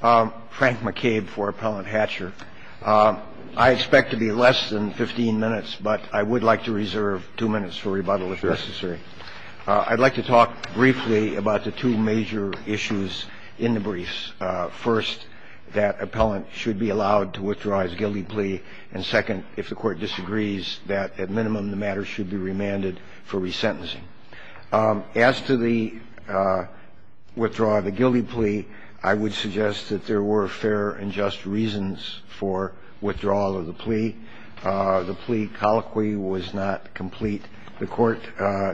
Frank McCabe for Appellant Hatcher. I expect to be less than 15 minutes, but I would like to reserve two minutes for rebuttal if necessary. I'd like to talk briefly about the two major issues in the briefs. First, that appellant should be allowed to withdraw his guilty plea. And second, if the court disagrees, that at minimum the matter should be remanded for resentencing. As to the withdrawal of the guilty plea, I would suggest that there were fair and just reasons for withdrawal of the plea. The plea colloquy was not complete. The court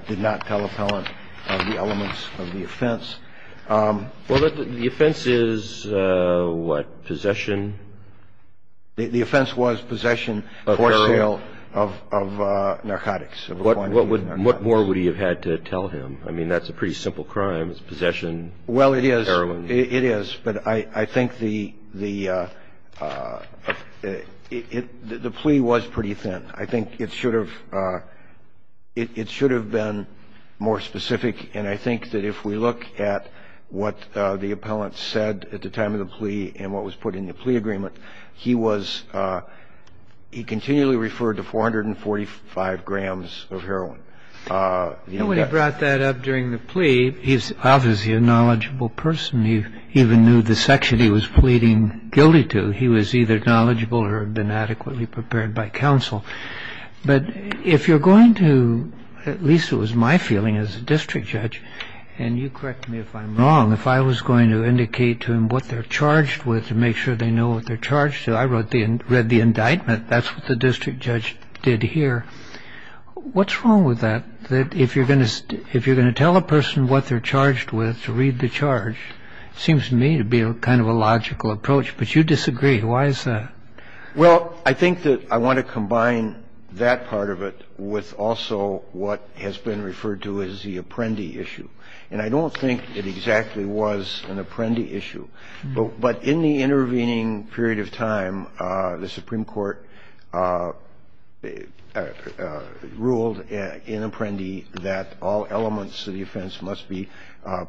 did not tell appellant the elements of the offense. Well, the offense is, what, possession? The offense was possession or burial of narcotics. What more would he have had to tell him? I mean, that's a pretty simple crime. It's possession. Well, it is. It is. But I think the plea was pretty thin. I think it should have been more specific. And I think that if we look at what the appellant said at the time of the plea and what was put in the plea agreement, he was, he continually referred to 445 grams of heroin. And when he brought that up during the plea, he's obviously a knowledgeable person. He even knew the section he was pleading guilty to. He was either knowledgeable or had been adequately prepared by counsel. But if you're going to, at least it was my feeling as a district judge, and you correct me if I'm wrong, if I was going to indicate to him what they're charged with to make sure they know what they're charged to, I read the indictment. That's what the district judge did here. What's wrong with that, that if you're going to tell a person what they're charged with to read the charge, it seems to me to be kind of a logical approach. But you disagree. Why is that? Well, I think that I want to combine that part of it with also what has been referred to as the apprendee issue. And I don't think it exactly was an apprendee issue. But in the intervening period of time, the Supreme Court ruled in apprendee that all elements of the offense must be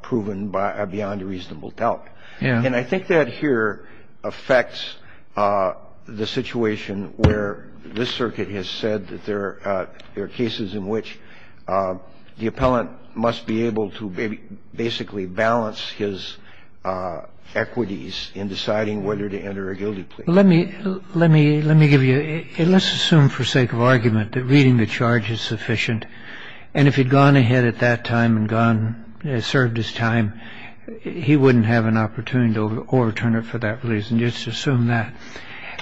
proven beyond a reasonable doubt. And I think that here affects the situation where this Circuit has said that there are cases in which the appellant must be able to basically balance his equities in deciding whether to enter a guilty plea. Let me give you, let's assume for sake of argument that reading the charge is sufficient, and if he'd gone ahead at that time and served his time, he wouldn't have an opportunity to overturn it for that reason. Just assume that.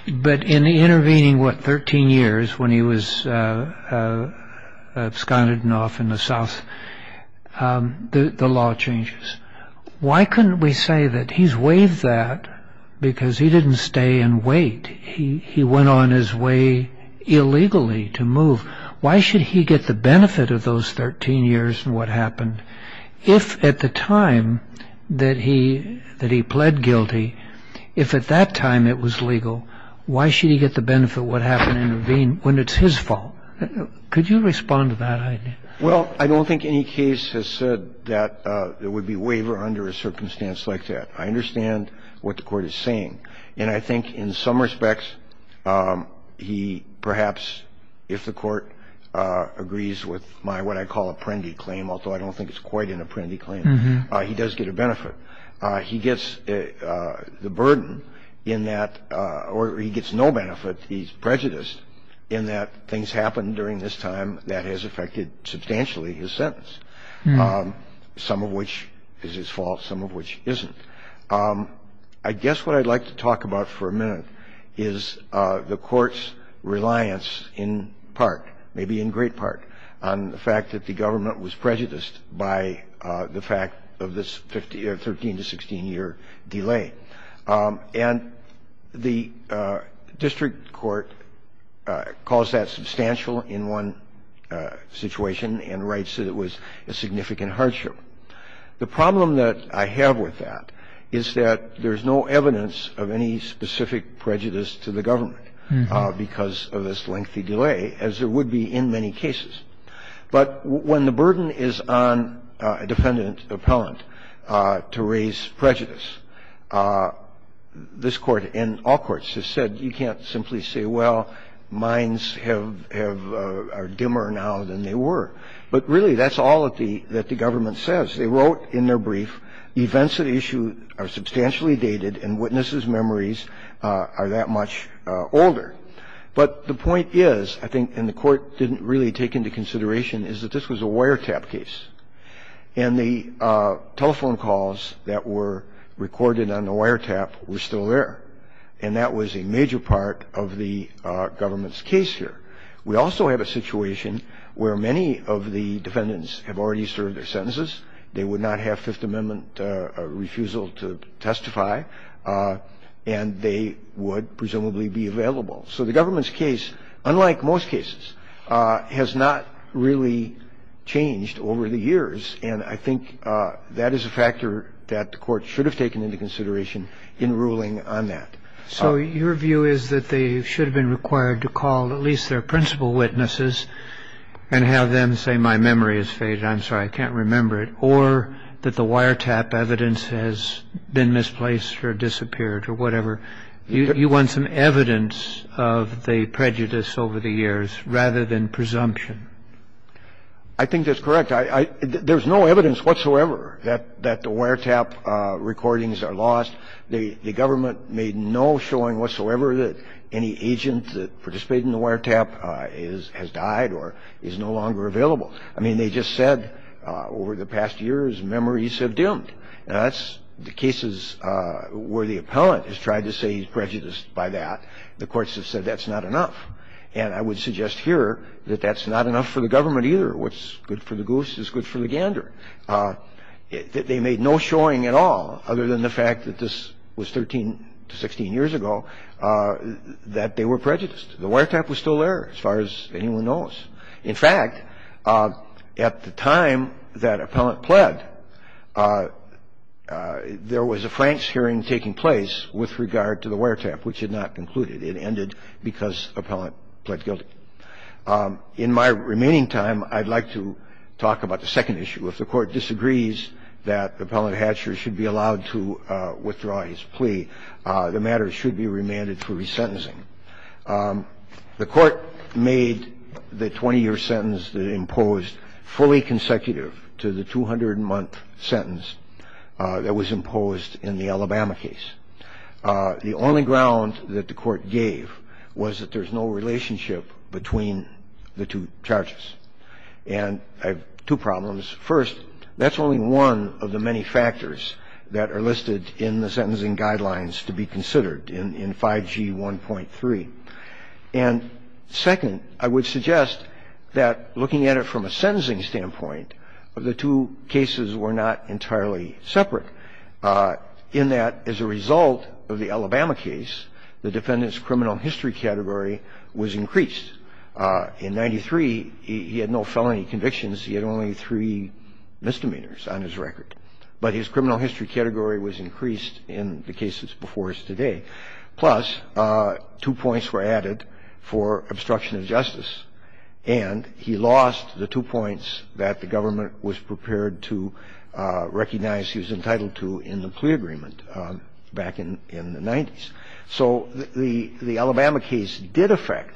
But in the intervening, what, 13 years when he was absconded and off in the South, the law changes. Why couldn't we say that he's waived that because he didn't stay and wait? He went on his way illegally to move. Why should he get the benefit of those 13 years and what happened? I don't think any case has said that there would be waiver under a circumstance like that. I understand what the Court is saying. And I think in some respects, he perhaps, if the Court agrees with my what I call apprendee claim, he does get a benefit. He gets the burden in that, or he gets no benefit. He's prejudiced in that things happen during this time that has affected substantially his sentence, some of which is his fault, some of which isn't. I guess what I'd like to talk about for a minute is the Court's reliance in part, maybe in great part, on the fact that the government was prejudiced by the fact of this 13 to 16-year delay. And the district court calls that substantial in one situation and writes that it was a significant hardship. The problem that I have with that is that there's no evidence of any specific prejudice to the government because of this lengthy delay, as there would be in many cases. But when the burden is on a defendant appellant to raise prejudice, this Court and all courts have said you can't simply say, well, mines are dimmer now than they were, but really that's all that the government says. They wrote in their brief, events at issue are substantially dated and witnesses' memories are that much older. But the point is, I think, and the Court didn't really take into consideration, is that this was a wiretap case. And the telephone calls that were recorded on the wiretap were still there. And that was a major part of the government's case here. We also have a situation where many of the defendants have already served their sentences. They would not have Fifth Amendment refusal to testify. And they would presumably be available. So the government's case, unlike most cases, has not really changed over the years. And I think that is a factor that the Court should have taken into consideration in ruling on that. So your view is that they should have been required to call at least their principal witnesses and have them say, my memory has faded. I'm sorry, I can't remember it. Or that the wiretap evidence has been misplaced or disappeared or whatever. You want some evidence of the prejudice over the years rather than presumption. I think that's correct. There's no evidence whatsoever that the wiretap recordings are lost. The government made no showing whatsoever that any agent that participated in the wiretap has died or is no longer available. I mean, they just said over the past years, memories have dimmed. Now, that's the cases where the appellant has tried to say he's prejudiced by that. The courts have said that's not enough. And I would suggest here that that's not enough for the government either. What's good for the goose is good for the gander. They made no showing at all, other than the fact that this was 13 to 16 years ago, that they were prejudiced. The wiretap was still there, as far as anyone knows. In fact, at the time that appellant pled, there was a Franks hearing taking place with regard to the wiretap, which had not concluded. It ended because appellant pled guilty. In my remaining time, I'd like to talk about the second issue. If the Court disagrees that Appellant Hatcher should be allowed to withdraw his plea, the matter should be remanded for resentencing. The Court made the 20-year sentence that imposed fully consecutive to the 200-month sentence that was imposed in the Alabama case. The only ground that the Court gave was that there's no relationship between the two charges. And I have two problems. First, that's only one of the many factors that are listed in the sentencing guidelines to be considered in 5G 1.3. And second, I would suggest that looking at it from a sentencing standpoint, the two cases were not entirely separate, in that as a result of the Alabama case, the defendant's criminal history category was increased. In 93, he had no felony convictions. He had only three misdemeanors on his record. But his criminal history category was increased in the cases before us today. Plus, two points were added for obstruction of justice. And he lost the two points that the government was prepared to recognize he was entitled to in the plea agreement back in the 90s. So the Alabama case did affect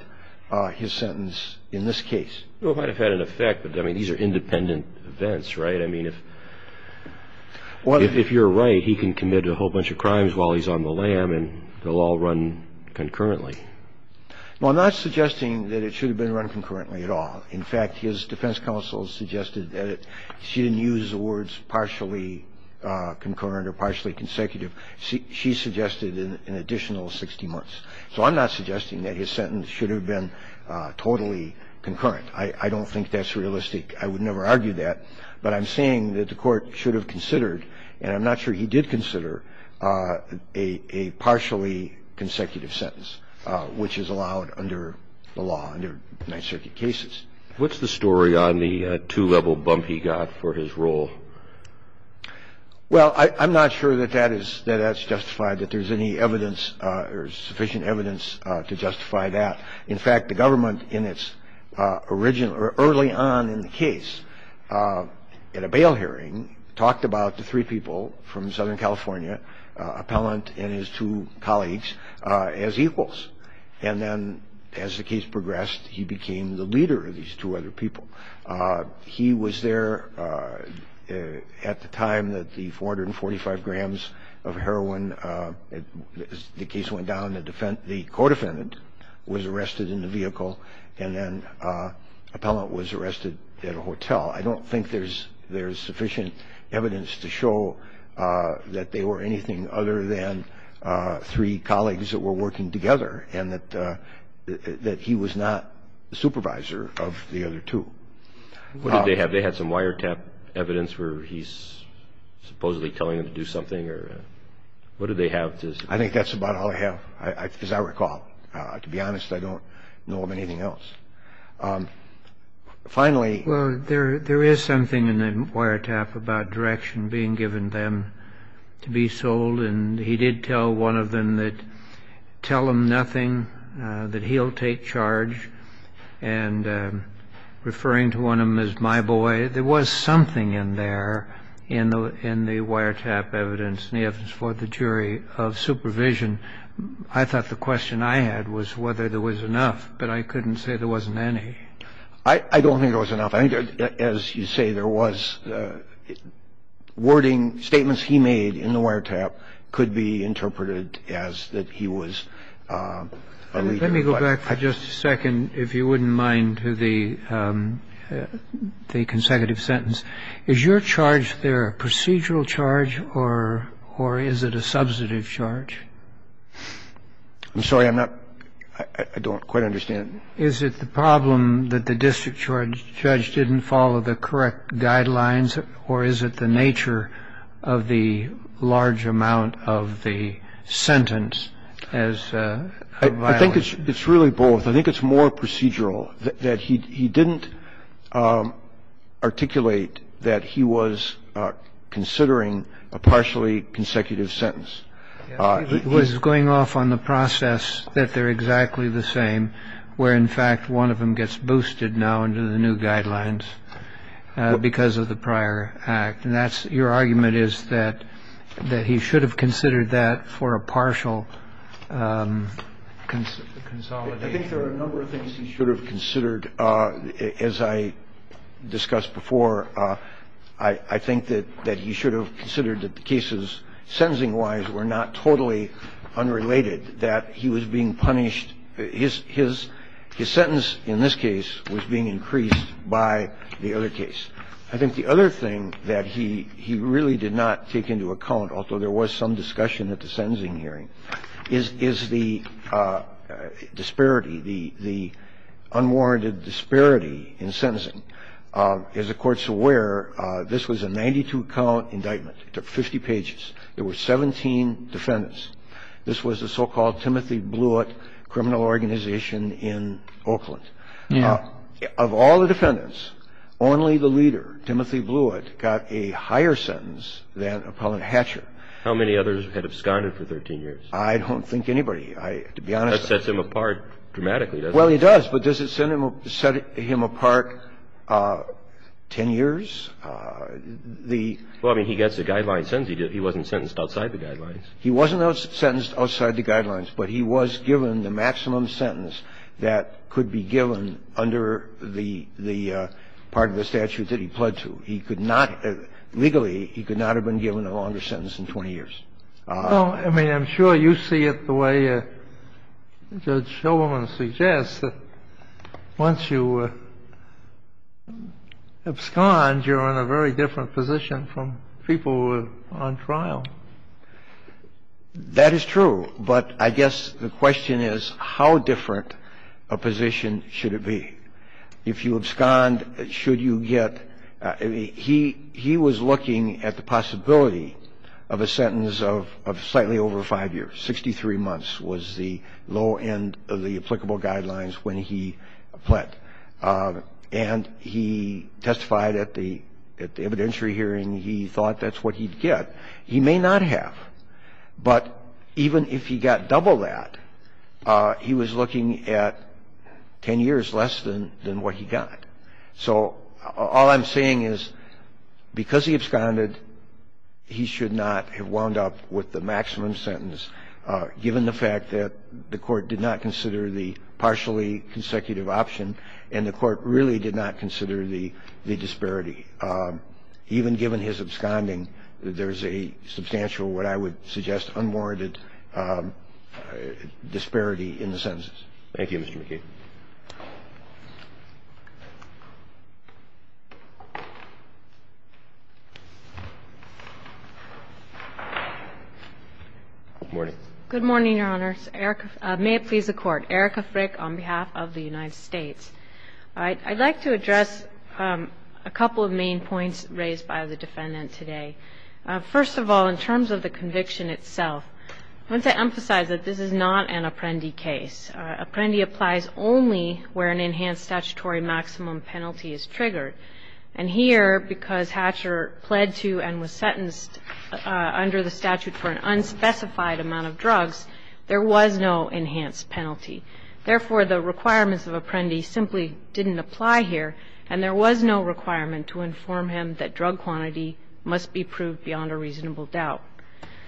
his sentence in this case. It might have had an effect, but, I mean, these are independent events, right? I mean, if you're right, he can commit a whole bunch of crimes while he's on the lam and they'll all run concurrently. No, I'm not suggesting that it should have been run concurrently at all. In fact, his defense counsel suggested that she didn't use the words partially concurrent or partially consecutive. She suggested an additional 60 months. So I'm not suggesting that his sentence should have been totally concurrent. I don't think that's realistic. I would never argue that. But I'm saying that the Court should have considered, and I'm not sure he did consider, a partially consecutive sentence, which is allowed under the law, under Ninth Circuit cases. What's the story on the two-level bump he got for his role? Well, I'm not sure that that's justified, that there's any evidence or sufficient evidence to justify that. In fact, the government, early on in the case, at a bail hearing, talked about the three people from Southern California, Appellant and his two colleagues, as equals. And then as the case progressed, he became the leader of these two other people. He was there at the time that the 445 grams of heroin, the case went down, the co-defendant was arrested in the vehicle, and then Appellant was arrested at a hotel. I don't think there's sufficient evidence to show that they were anything other than three colleagues that were working together and that he was not the supervisor of the other two. What did they have? They had some wiretap evidence where he's supposedly telling them to do something? What did they have? I think that's about all I have, as I recall. To be honest, I don't know of anything else. Finally... Well, there is something in the wiretap about direction being given them to be sold, and he did tell one of them that, tell them nothing, that he'll take charge, and referring to one of them as my boy, I don't think there was enough. I don't think there was enough. I think, as you say, there was wording, statements he made in the wiretap could be interpreted as that he was a leader, but... Let me go back for just a second, if you wouldn't mind, to the consecutive question Is your charge there a procedural charge or is it a substantive charge? I'm sorry, I'm not... I don't quite understand. Is it the problem that the district judge didn't follow the correct guidelines or is it the nature of the large amount of the sentence as a violation? I think it's really both. I think it's more procedural that he didn't articulate that he was considering a partially consecutive sentence. He was going off on the process that they're exactly the same, where, in fact, one of them gets boosted now under the new guidelines because of the prior act, and that's your argument is that he should have considered that for a partial consolidation. I think there are a number of things he should have considered. As I discussed before, I think that he should have considered that the cases sentencing-wise were not totally unrelated, that he was being punished. His sentence in this case was being increased by the other case. I think the other thing that he really did not take into account, although there was some discussion at the sentencing hearing, is the disparity, the unwarranted disparity in sentencing. As the Court's aware, this was a 92-count indictment. It took 50 pages. There were 17 defendants. This was the so-called Timothy Blewett criminal organization in Oakland. Of all the defendants, only the leader, Timothy Blewett, got a higher sentence than Appellant Hatcher. How many others had absconded for 13 years? I don't think anybody. To be honest. That sets him apart dramatically, doesn't it? Well, it does, but does it set him apart 10 years? Well, I mean, he gets a guideline sentence. He wasn't sentenced outside the guidelines. He wasn't sentenced outside the guidelines, but he was given the maximum sentence that could be given under the part of the statute that he pled to. He could not, legally, he could not have been given a longer sentence than 20 years. Well, I mean, I'm sure you see it the way Judge Shulman suggests, that once you abscond, you're in a very different position from people who are on trial. That is true. But I guess the question is how different a position should it be. If you abscond, should you get, he was looking at the possibility of a sentence of slightly over five years. Sixty-three months was the low end of the applicable guidelines when he pled. And he testified at the evidentiary hearing he thought that's what he'd get. He may not have. But even if he got double that, he was looking at 10 years less than what he got. So all I'm saying is because he absconded, he should not have wound up with the maximum sentence given the fact that the Court did not consider the partially consecutive option and the Court really did not consider the disparity. Even given his absconding, there's a substantial, what I would suggest unwarranted disparity in the sentences. Thank you, Mr. McKee. Good morning. Good morning, Your Honor. May it please the Court. Erica Frick on behalf of the United States. I'd like to address a couple of main points raised by the defendant today. First of all, in terms of the conviction itself, I want to emphasize that this is not an Apprendi case. Apprendi applies only where an enhanced statutory maximum penalty is triggered. And here, because Hatcher pled to and was sentenced under the statute for an unspecified amount of drugs, there was no enhanced penalty. Therefore, the requirements of Apprendi simply didn't apply here, and there was no requirement to inform him that drug quantity must be proved beyond a reasonable doubt.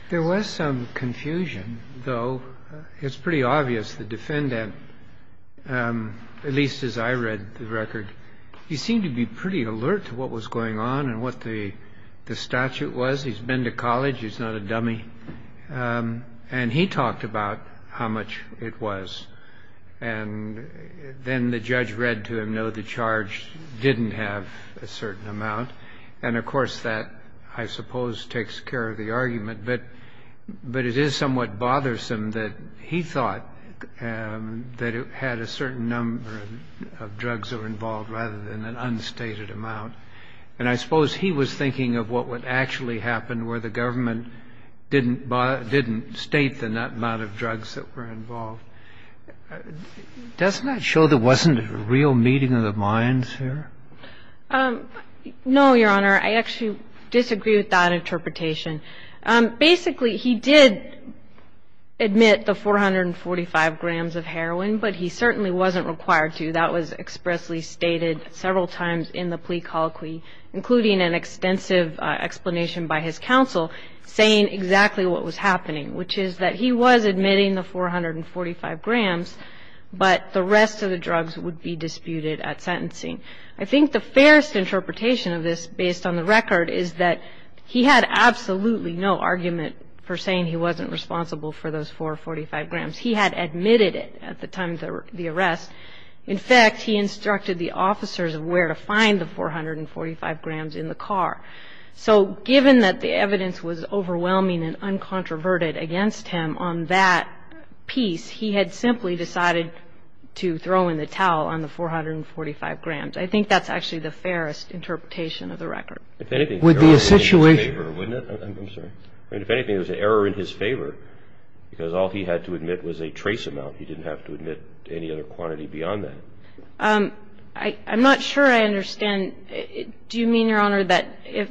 There was some confusion, though. It's pretty obvious the defendant, at least as I read the record, he seemed to be pretty alert to what was going on and what the statute was. He's not a dummy. And he talked about how much it was. And then the judge read to him, no, the charge didn't have a certain amount. And, of course, that, I suppose, takes care of the argument. But it is somewhat bothersome that he thought that it had a certain number of drugs that were involved rather than an unstated amount. And I suppose he was thinking of what would actually happen where the government didn't state the amount of drugs that were involved. Doesn't that show there wasn't a real meeting of the minds here? No, Your Honor. I actually disagree with that interpretation. Basically, he did admit the 445 grams of heroin, but he certainly wasn't required to. That was expressly stated several times in the plea colloquy, including an extensive explanation by his counsel, saying exactly what was happening, which is that he was admitting the 445 grams, but the rest of the drugs would be disputed at sentencing. I think the fairest interpretation of this, based on the record, is that he had absolutely no argument for saying he wasn't responsible for those 445 grams. He had admitted it at the time of the arrest. In fact, he instructed the officers of where to find the 445 grams in the car. So given that the evidence was overwhelming and uncontroverted against him on that piece, he had simply decided to throw in the towel on the 445 grams. I think that's actually the fairest interpretation of the record. If anything, there was an error in his favor, wouldn't it? I'm sorry. If anything, there was an error in his favor because all he had to admit was a trace amount. He didn't have to admit any other quantity beyond that. I'm not sure I understand. Do you mean, Your Honor, that if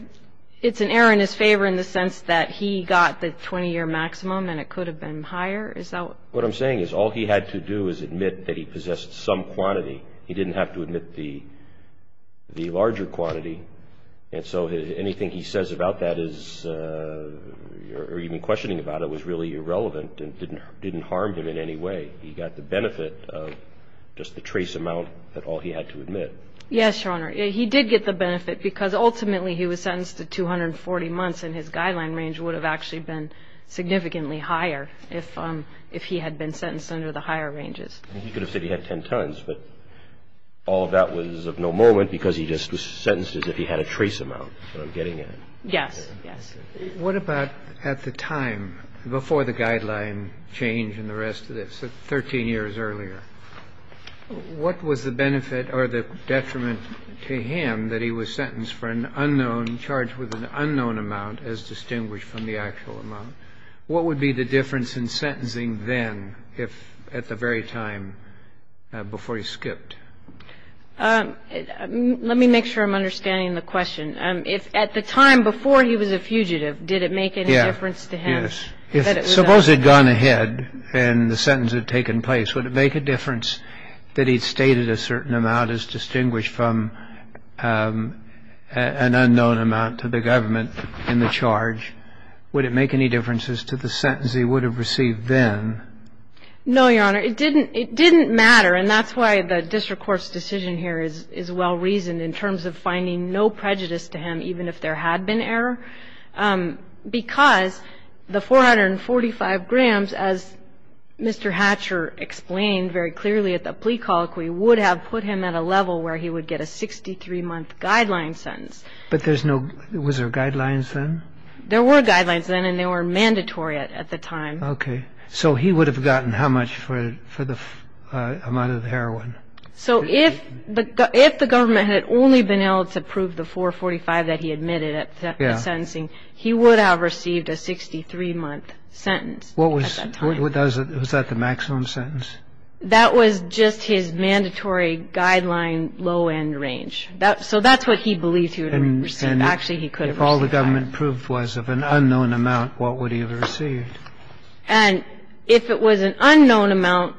it's an error in his favor in the sense that he got the 20-year maximum and it could have been higher? What I'm saying is all he had to do is admit that he possessed some quantity. He didn't have to admit the larger quantity, and so anything he says about that is or even questioning about it was really irrelevant and didn't harm him in any way. He got the benefit of just the trace amount that all he had to admit. Yes, Your Honor. He did get the benefit because ultimately he was sentenced to 240 months, and his guideline range would have actually been significantly higher if he had been sentenced under the higher ranges. He could have said he had 10 tons, but all of that was of no moment because he just was sentenced as if he had a trace amount, is what I'm getting at. Yes, yes. What about at the time before the guideline change and the rest of this, 13 years earlier? What was the benefit or the detriment to him that he was sentenced for an unknown charged with an unknown amount as distinguished from the actual amount? What would be the difference in sentencing then if at the very time before he skipped? Let me make sure I'm understanding the question. If at the time before he was a fugitive, did it make any difference to him? Yes. Suppose he had gone ahead and the sentence had taken place, would it make a difference that he stated a certain amount as distinguished from an unknown amount to the government in the charge? Would it make any differences to the sentence he would have received then? No, Your Honor. It didn't matter, and that's why the district court's decision here is well-reasoned in terms of finding no prejudice to him even if there had been error because the 445 grams, as Mr. Hatcher explained very clearly at the plea colloquy, would have put him at a level where he would get a 63-month guideline sentence. But was there guidelines then? There were guidelines then, and they were mandatory at the time. Okay. So he would have gotten how much for the amount of heroin? So if the government had only been able to prove the 445 that he admitted at sentencing, he would have received a 63-month sentence at that time. Was that the maximum sentence? That was just his mandatory guideline low-end range. So that's what he believes he would have received. Actually, he could have received that. And if all the government proved was of an unknown amount, what would he have received? And if it was an unknown amount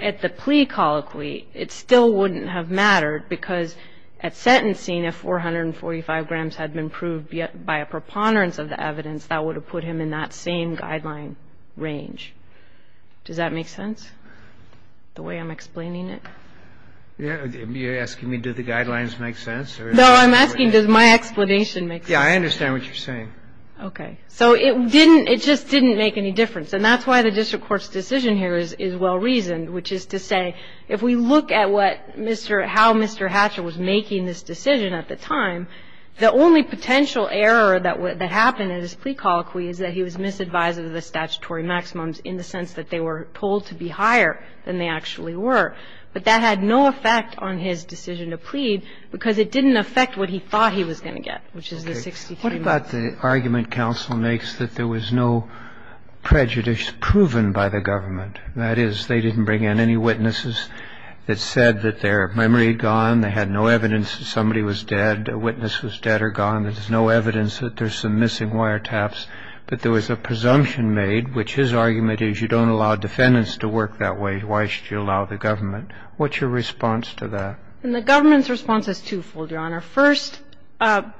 at the plea colloquy, it still wouldn't have mattered because at sentencing, if 445 grams had been proved by a preponderance of the evidence, that would have put him in that same guideline range. Does that make sense, the way I'm explaining it? You're asking me, do the guidelines make sense? No, I'm asking, does my explanation make sense? Yeah, I understand what you're saying. Okay. So it just didn't make any difference. And that's why the district court's decision here is well-reasoned, which is to say if we look at how Mr. Hatcher was making this decision at the time, the only potential error that happened at his plea colloquy is that he was misadvised of the statutory maximums in the sense that they were told to be higher than they actually were. But that had no effect on his decision to plead because it didn't affect what he thought he was going to get, which is the 63 months. And I think that's the argument counsel makes, that there was no prejudice proven by the government. That is, they didn't bring in any witnesses that said that their memory had gone, they had no evidence that somebody was dead, a witness was dead or gone, there's no evidence that there's some missing wiretaps. But there was a presumption made, which his argument is you don't allow defendants to work that way. Why should you allow the government? And the government's response is twofold, Your Honor. First,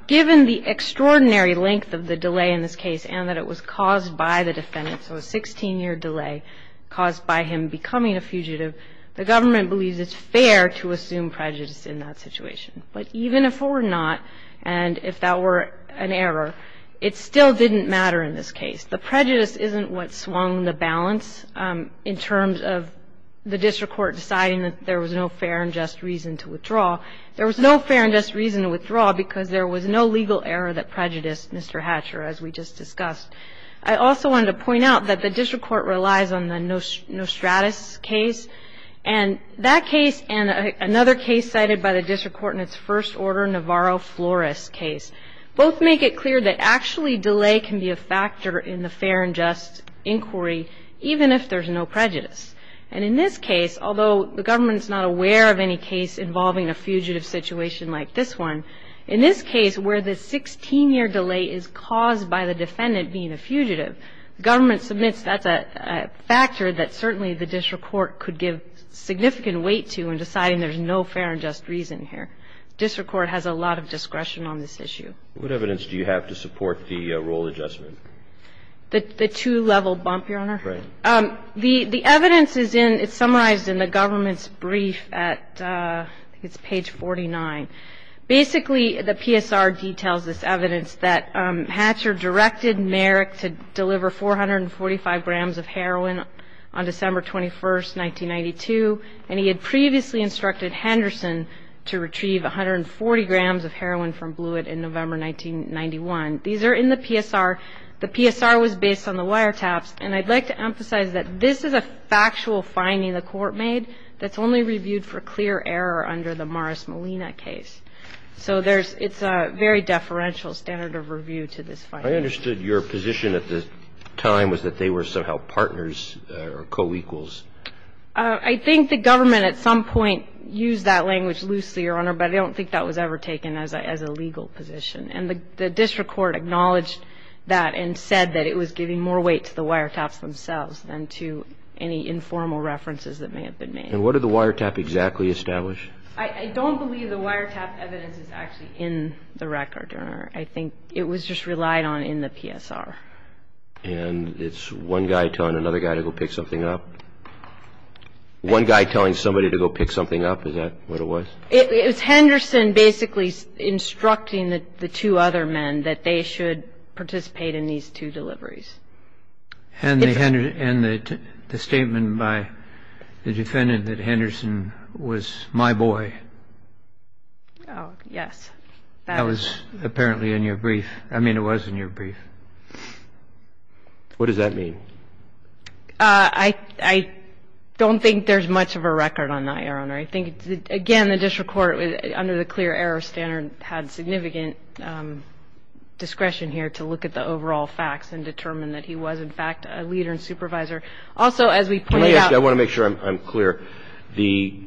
given the extraordinary length of the delay in this case and that it was caused by the defendant, so a 16-year delay caused by him becoming a fugitive, the government believes it's fair to assume prejudice in that situation. But even if it were not and if that were an error, it still didn't matter in this case. The prejudice isn't what swung the balance in terms of the district court deciding that there was no fair and just reason to withdraw. There was no fair and just reason to withdraw because there was no legal error that prejudiced Mr. Hatcher, as we just discussed. I also wanted to point out that the district court relies on the Nostratus case. And that case and another case cited by the district court in its first order, Navarro-Flores case, both make it clear that actually delay can be a factor in the fair and just inquiry, even if there's no prejudice. And in this case, although the government is not aware of any case involving a fugitive situation like this one, in this case where the 16-year delay is caused by the defendant being a fugitive, the government submits that's a factor that certainly the district court could give significant weight to in deciding there's no fair and just reason here. District court has a lot of discretion on this issue. What evidence do you have to support the rule adjustment? The two-level bump, Your Honor. Right. The evidence is summarized in the government's brief at, I think it's page 49. Basically, the PSR details this evidence that Hatcher directed Merrick to deliver 445 grams of heroin on December 21, 1992, and he had previously instructed Henderson to retrieve 140 grams of heroin from Blewett in November 1991. These are in the PSR. The PSR was based on the wiretaps. And I'd like to emphasize that this is a factual finding the court made that's only reviewed for clear error under the Morris Molina case. So it's a very deferential standard of review to this finding. I understood your position at the time was that they were somehow partners or co-equals. I think the government at some point used that language loosely, Your Honor, but I don't think that was ever taken as a legal position. And the district court acknowledged that and said that it was giving more weight to the wiretaps themselves than to any informal references that may have been made. And what did the wiretap exactly establish? I don't believe the wiretap evidence is actually in the record, Your Honor. I think it was just relied on in the PSR. And it's one guy telling another guy to go pick something up? One guy telling somebody to go pick something up, is that what it was? It was Henderson basically instructing the two other men that they should participate in these two deliveries. And the statement by the defendant that Henderson was my boy. Oh, yes. That was apparently in your brief. I mean, it was in your brief. What does that mean? I don't think that the wiretaps were actually in the record. I think, again, the district court under the clear error standard had significant discretion here to look at the overall facts and determine that he was, in fact, a leader and supervisor. Also, as we pointed out ---- I want to make sure I'm clear. The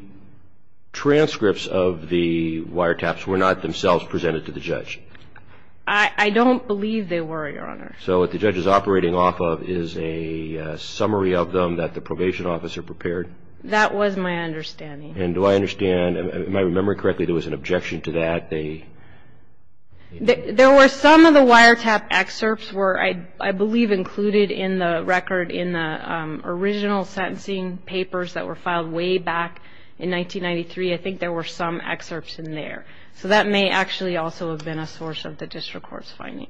transcripts of the wiretaps were not themselves presented to the judge? I don't believe they were, Your Honor. So what the judge is operating off of is a summary of them that the probation officer prepared? That was my understanding. And do I understand, am I remembering correctly, there was an objection to that? There were some of the wiretap excerpts were, I believe, included in the record in the original sentencing papers that were filed way back in 1993. I think there were some excerpts in there. So that may actually also have been a source of the district court's finding.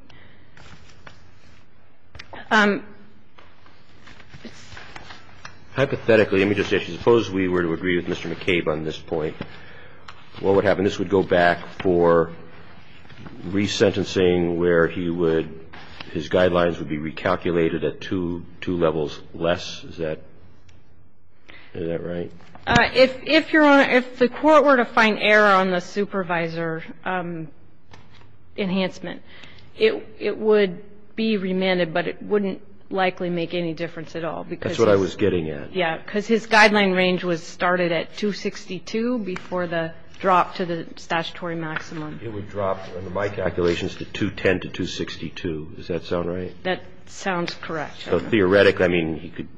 Hypothetically, let me just say, suppose we were to agree with Mr. McCabe on this point, what would happen? This would go back for resentencing where he would ---- his guidelines would be recalculated at two levels less. Is that right? If the court were to find error on the supervisor enhancement, it would be remanded, but it wouldn't likely make any difference at all. That's what I was getting at. Yes. Because his guideline range was started at 262 before the drop to the statutory maximum. It would drop, under my calculations, to 210 to 262. Does that sound right? That sounds correct, Your Honor. So theoretically, I mean,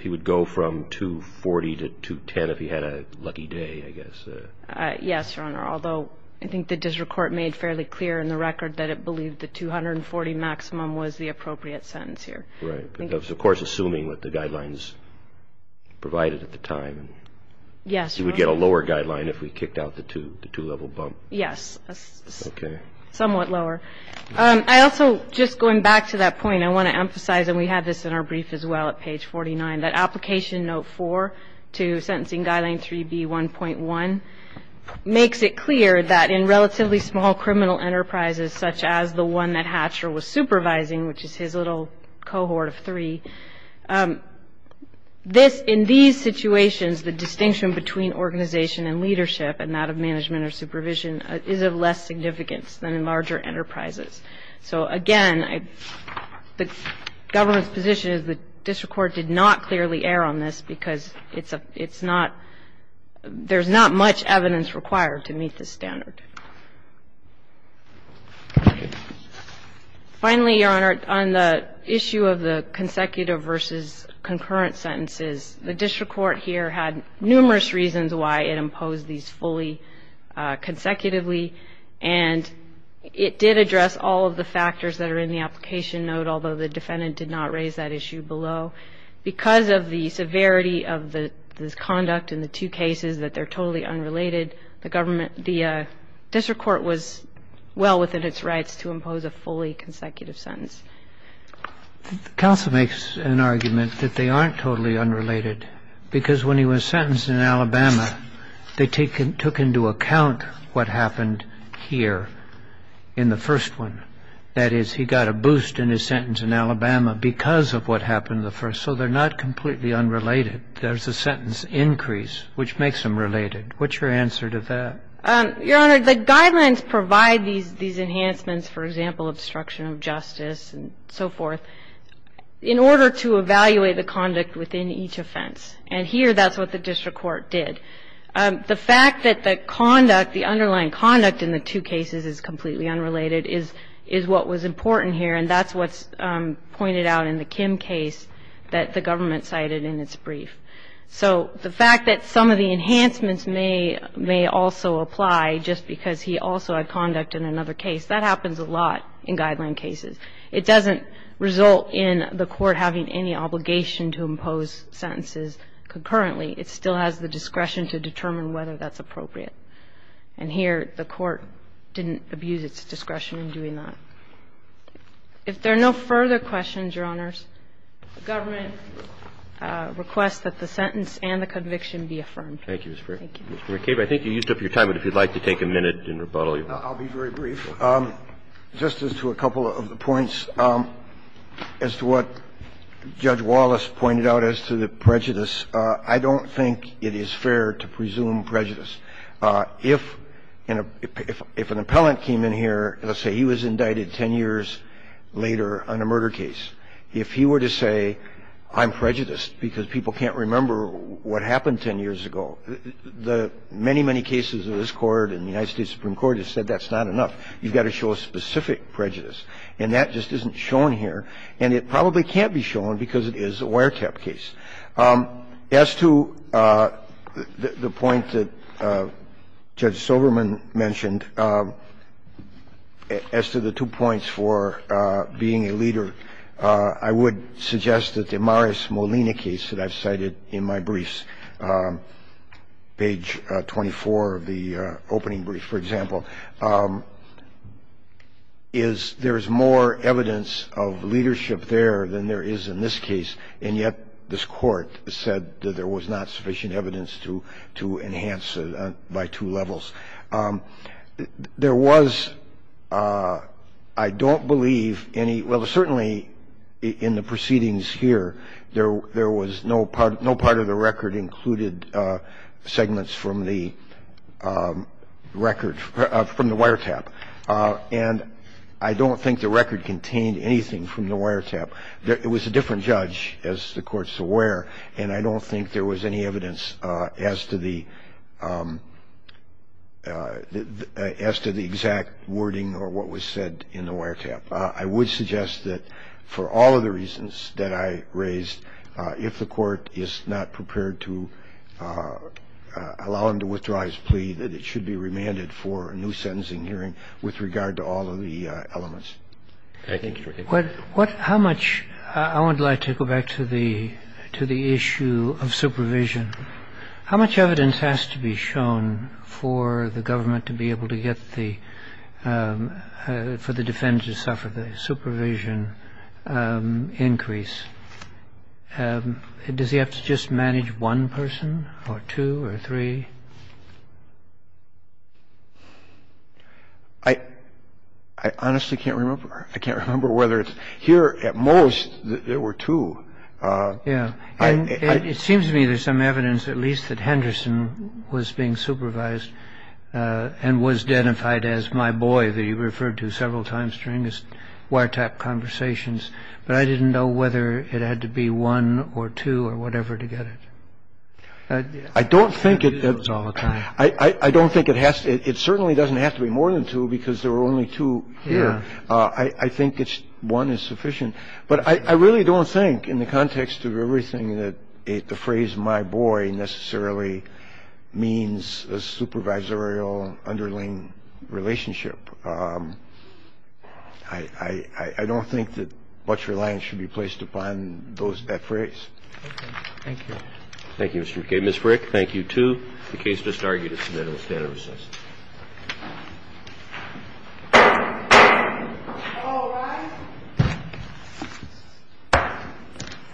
he would go from 240 to 210 if he had a lucky day, I guess. Yes, Your Honor. Although I think the district court made fairly clear in the record that it believed the 240 maximum was the appropriate sentence here. Right. Of course, assuming what the guidelines provided at the time. Yes. He would get a lower guideline if we kicked out the two-level bump. Yes. Okay. Somewhat lower. I also, just going back to that point, I want to emphasize, and we have this in our brief as well at page 49, that Application Note 4 to Sentencing Guideline 3B1.1 makes it clear that in relatively small criminal enterprises, such as the one that Hatcher was supervising, which is his little cohort of three, this, in these situations, the distinction between organization and leadership and that of management or supervision is of less significance than in larger enterprises. So, again, the government's position is the district court did not clearly err on this because it's not, there's not much evidence required to meet this standard. Finally, Your Honor, on the issue of the consecutive versus concurrent sentences, the district court here had numerous reasons why it imposed these fully consecutively, and it did address all of the factors that are in the application note, although the defendant did not raise that issue below. Because of the severity of the conduct in the two cases, that they're totally unrelated, the government, the district court was well within its rights to impose a fully consecutive sentence. The counsel makes an argument that they aren't totally unrelated because when he was sentenced in Alabama, they took into account what happened here in the first one. That is, he got a boost in his sentence in Alabama because of what happened in the first. So they're not completely unrelated. There's a sentence increase, which makes them related. What's your answer to that? Your Honor, the guidelines provide these enhancements, for example, obstruction of justice, and so forth, in order to evaluate the conduct within each offense. And here, that's what the district court did. The fact that the conduct, the underlying conduct in the two cases is completely unrelated is what was important here, and that's what's pointed out in the Kim case that the government cited in its brief. So the fact that some of the enhancements may also apply just because he also had conduct in another case, that happens a lot in guideline cases. It doesn't result in the court having any obligation to impose sentences concurrently. It still has the discretion to determine whether that's appropriate. And here, the court didn't abuse its discretion in doing that. If there are no further questions, Your Honors, the government requests that the sentence and the conviction be affirmed. Thank you, Ms. Frick. Thank you. Mr. McCabe, I think you used up your time, but if you'd like to take a minute in rebuttal, you're welcome. I'll be very brief. Just as to a couple of the points as to what Judge Wallace pointed out as to the prejudice, I don't think it is fair to presume prejudice. If an appellant came in here, let's say he was indicted 10 years later on a murder case, if he were to say I'm prejudiced because people can't remember what happened 10 years ago, the many, many cases of this Court and the United States Supreme Court have said that's not enough. You've got to show a specific prejudice. And that just isn't shown here. And it probably can't be shown because it is a wiretap case. As to the point that Judge Silverman mentioned, as to the two points for being a leader, I would suggest that the Morris-Molina case that I've cited in my briefs, page 24 of the appeal, is there's more evidence of leadership there than there is in this case. And yet this Court said that there was not sufficient evidence to enhance it by two levels. There was, I don't believe any – well, certainly in the proceedings here, there was no part of the record included segments from the record, from the wiretap. And I don't think the record contained anything from the wiretap. It was a different judge, as the Court's aware, and I don't think there was any evidence as to the exact wording or what was said in the wiretap. I would suggest that for all of the reasons that I raised, if the Court is not prepared to allow him to withdraw his plea, that it should be remanded for a new sentencing hearing with regard to all of the elements. Thank you. How much – I would like to go back to the issue of supervision. How much evidence has to be shown for the government to be able to get the – for the defendants to suffer the supervision increase? Does he have to just manage one person or two or three? I honestly can't remember. I can't remember whether it's – here, at most, there were two. Yes. It seems to me there's some evidence at least that Henderson was being supervised and was identified as my boy that he referred to several times during his wiretap conversations. But I didn't know whether it had to be one or two or whatever to get it. I don't think it – I use those all the time. I don't think it has to – it certainly doesn't have to be more than two because there were only two here. I think one is sufficient. But I really don't think, in the context of everything, that the phrase my boy necessarily means a supervisorial underlying relationship. I don't think that much reliance should be placed upon those – that phrase. Okay. Thank you. Thank you, Mr. McKay. Ms. Frick, thank you too. The case is disargued. It's submitted. We'll stand in recess. Thank you.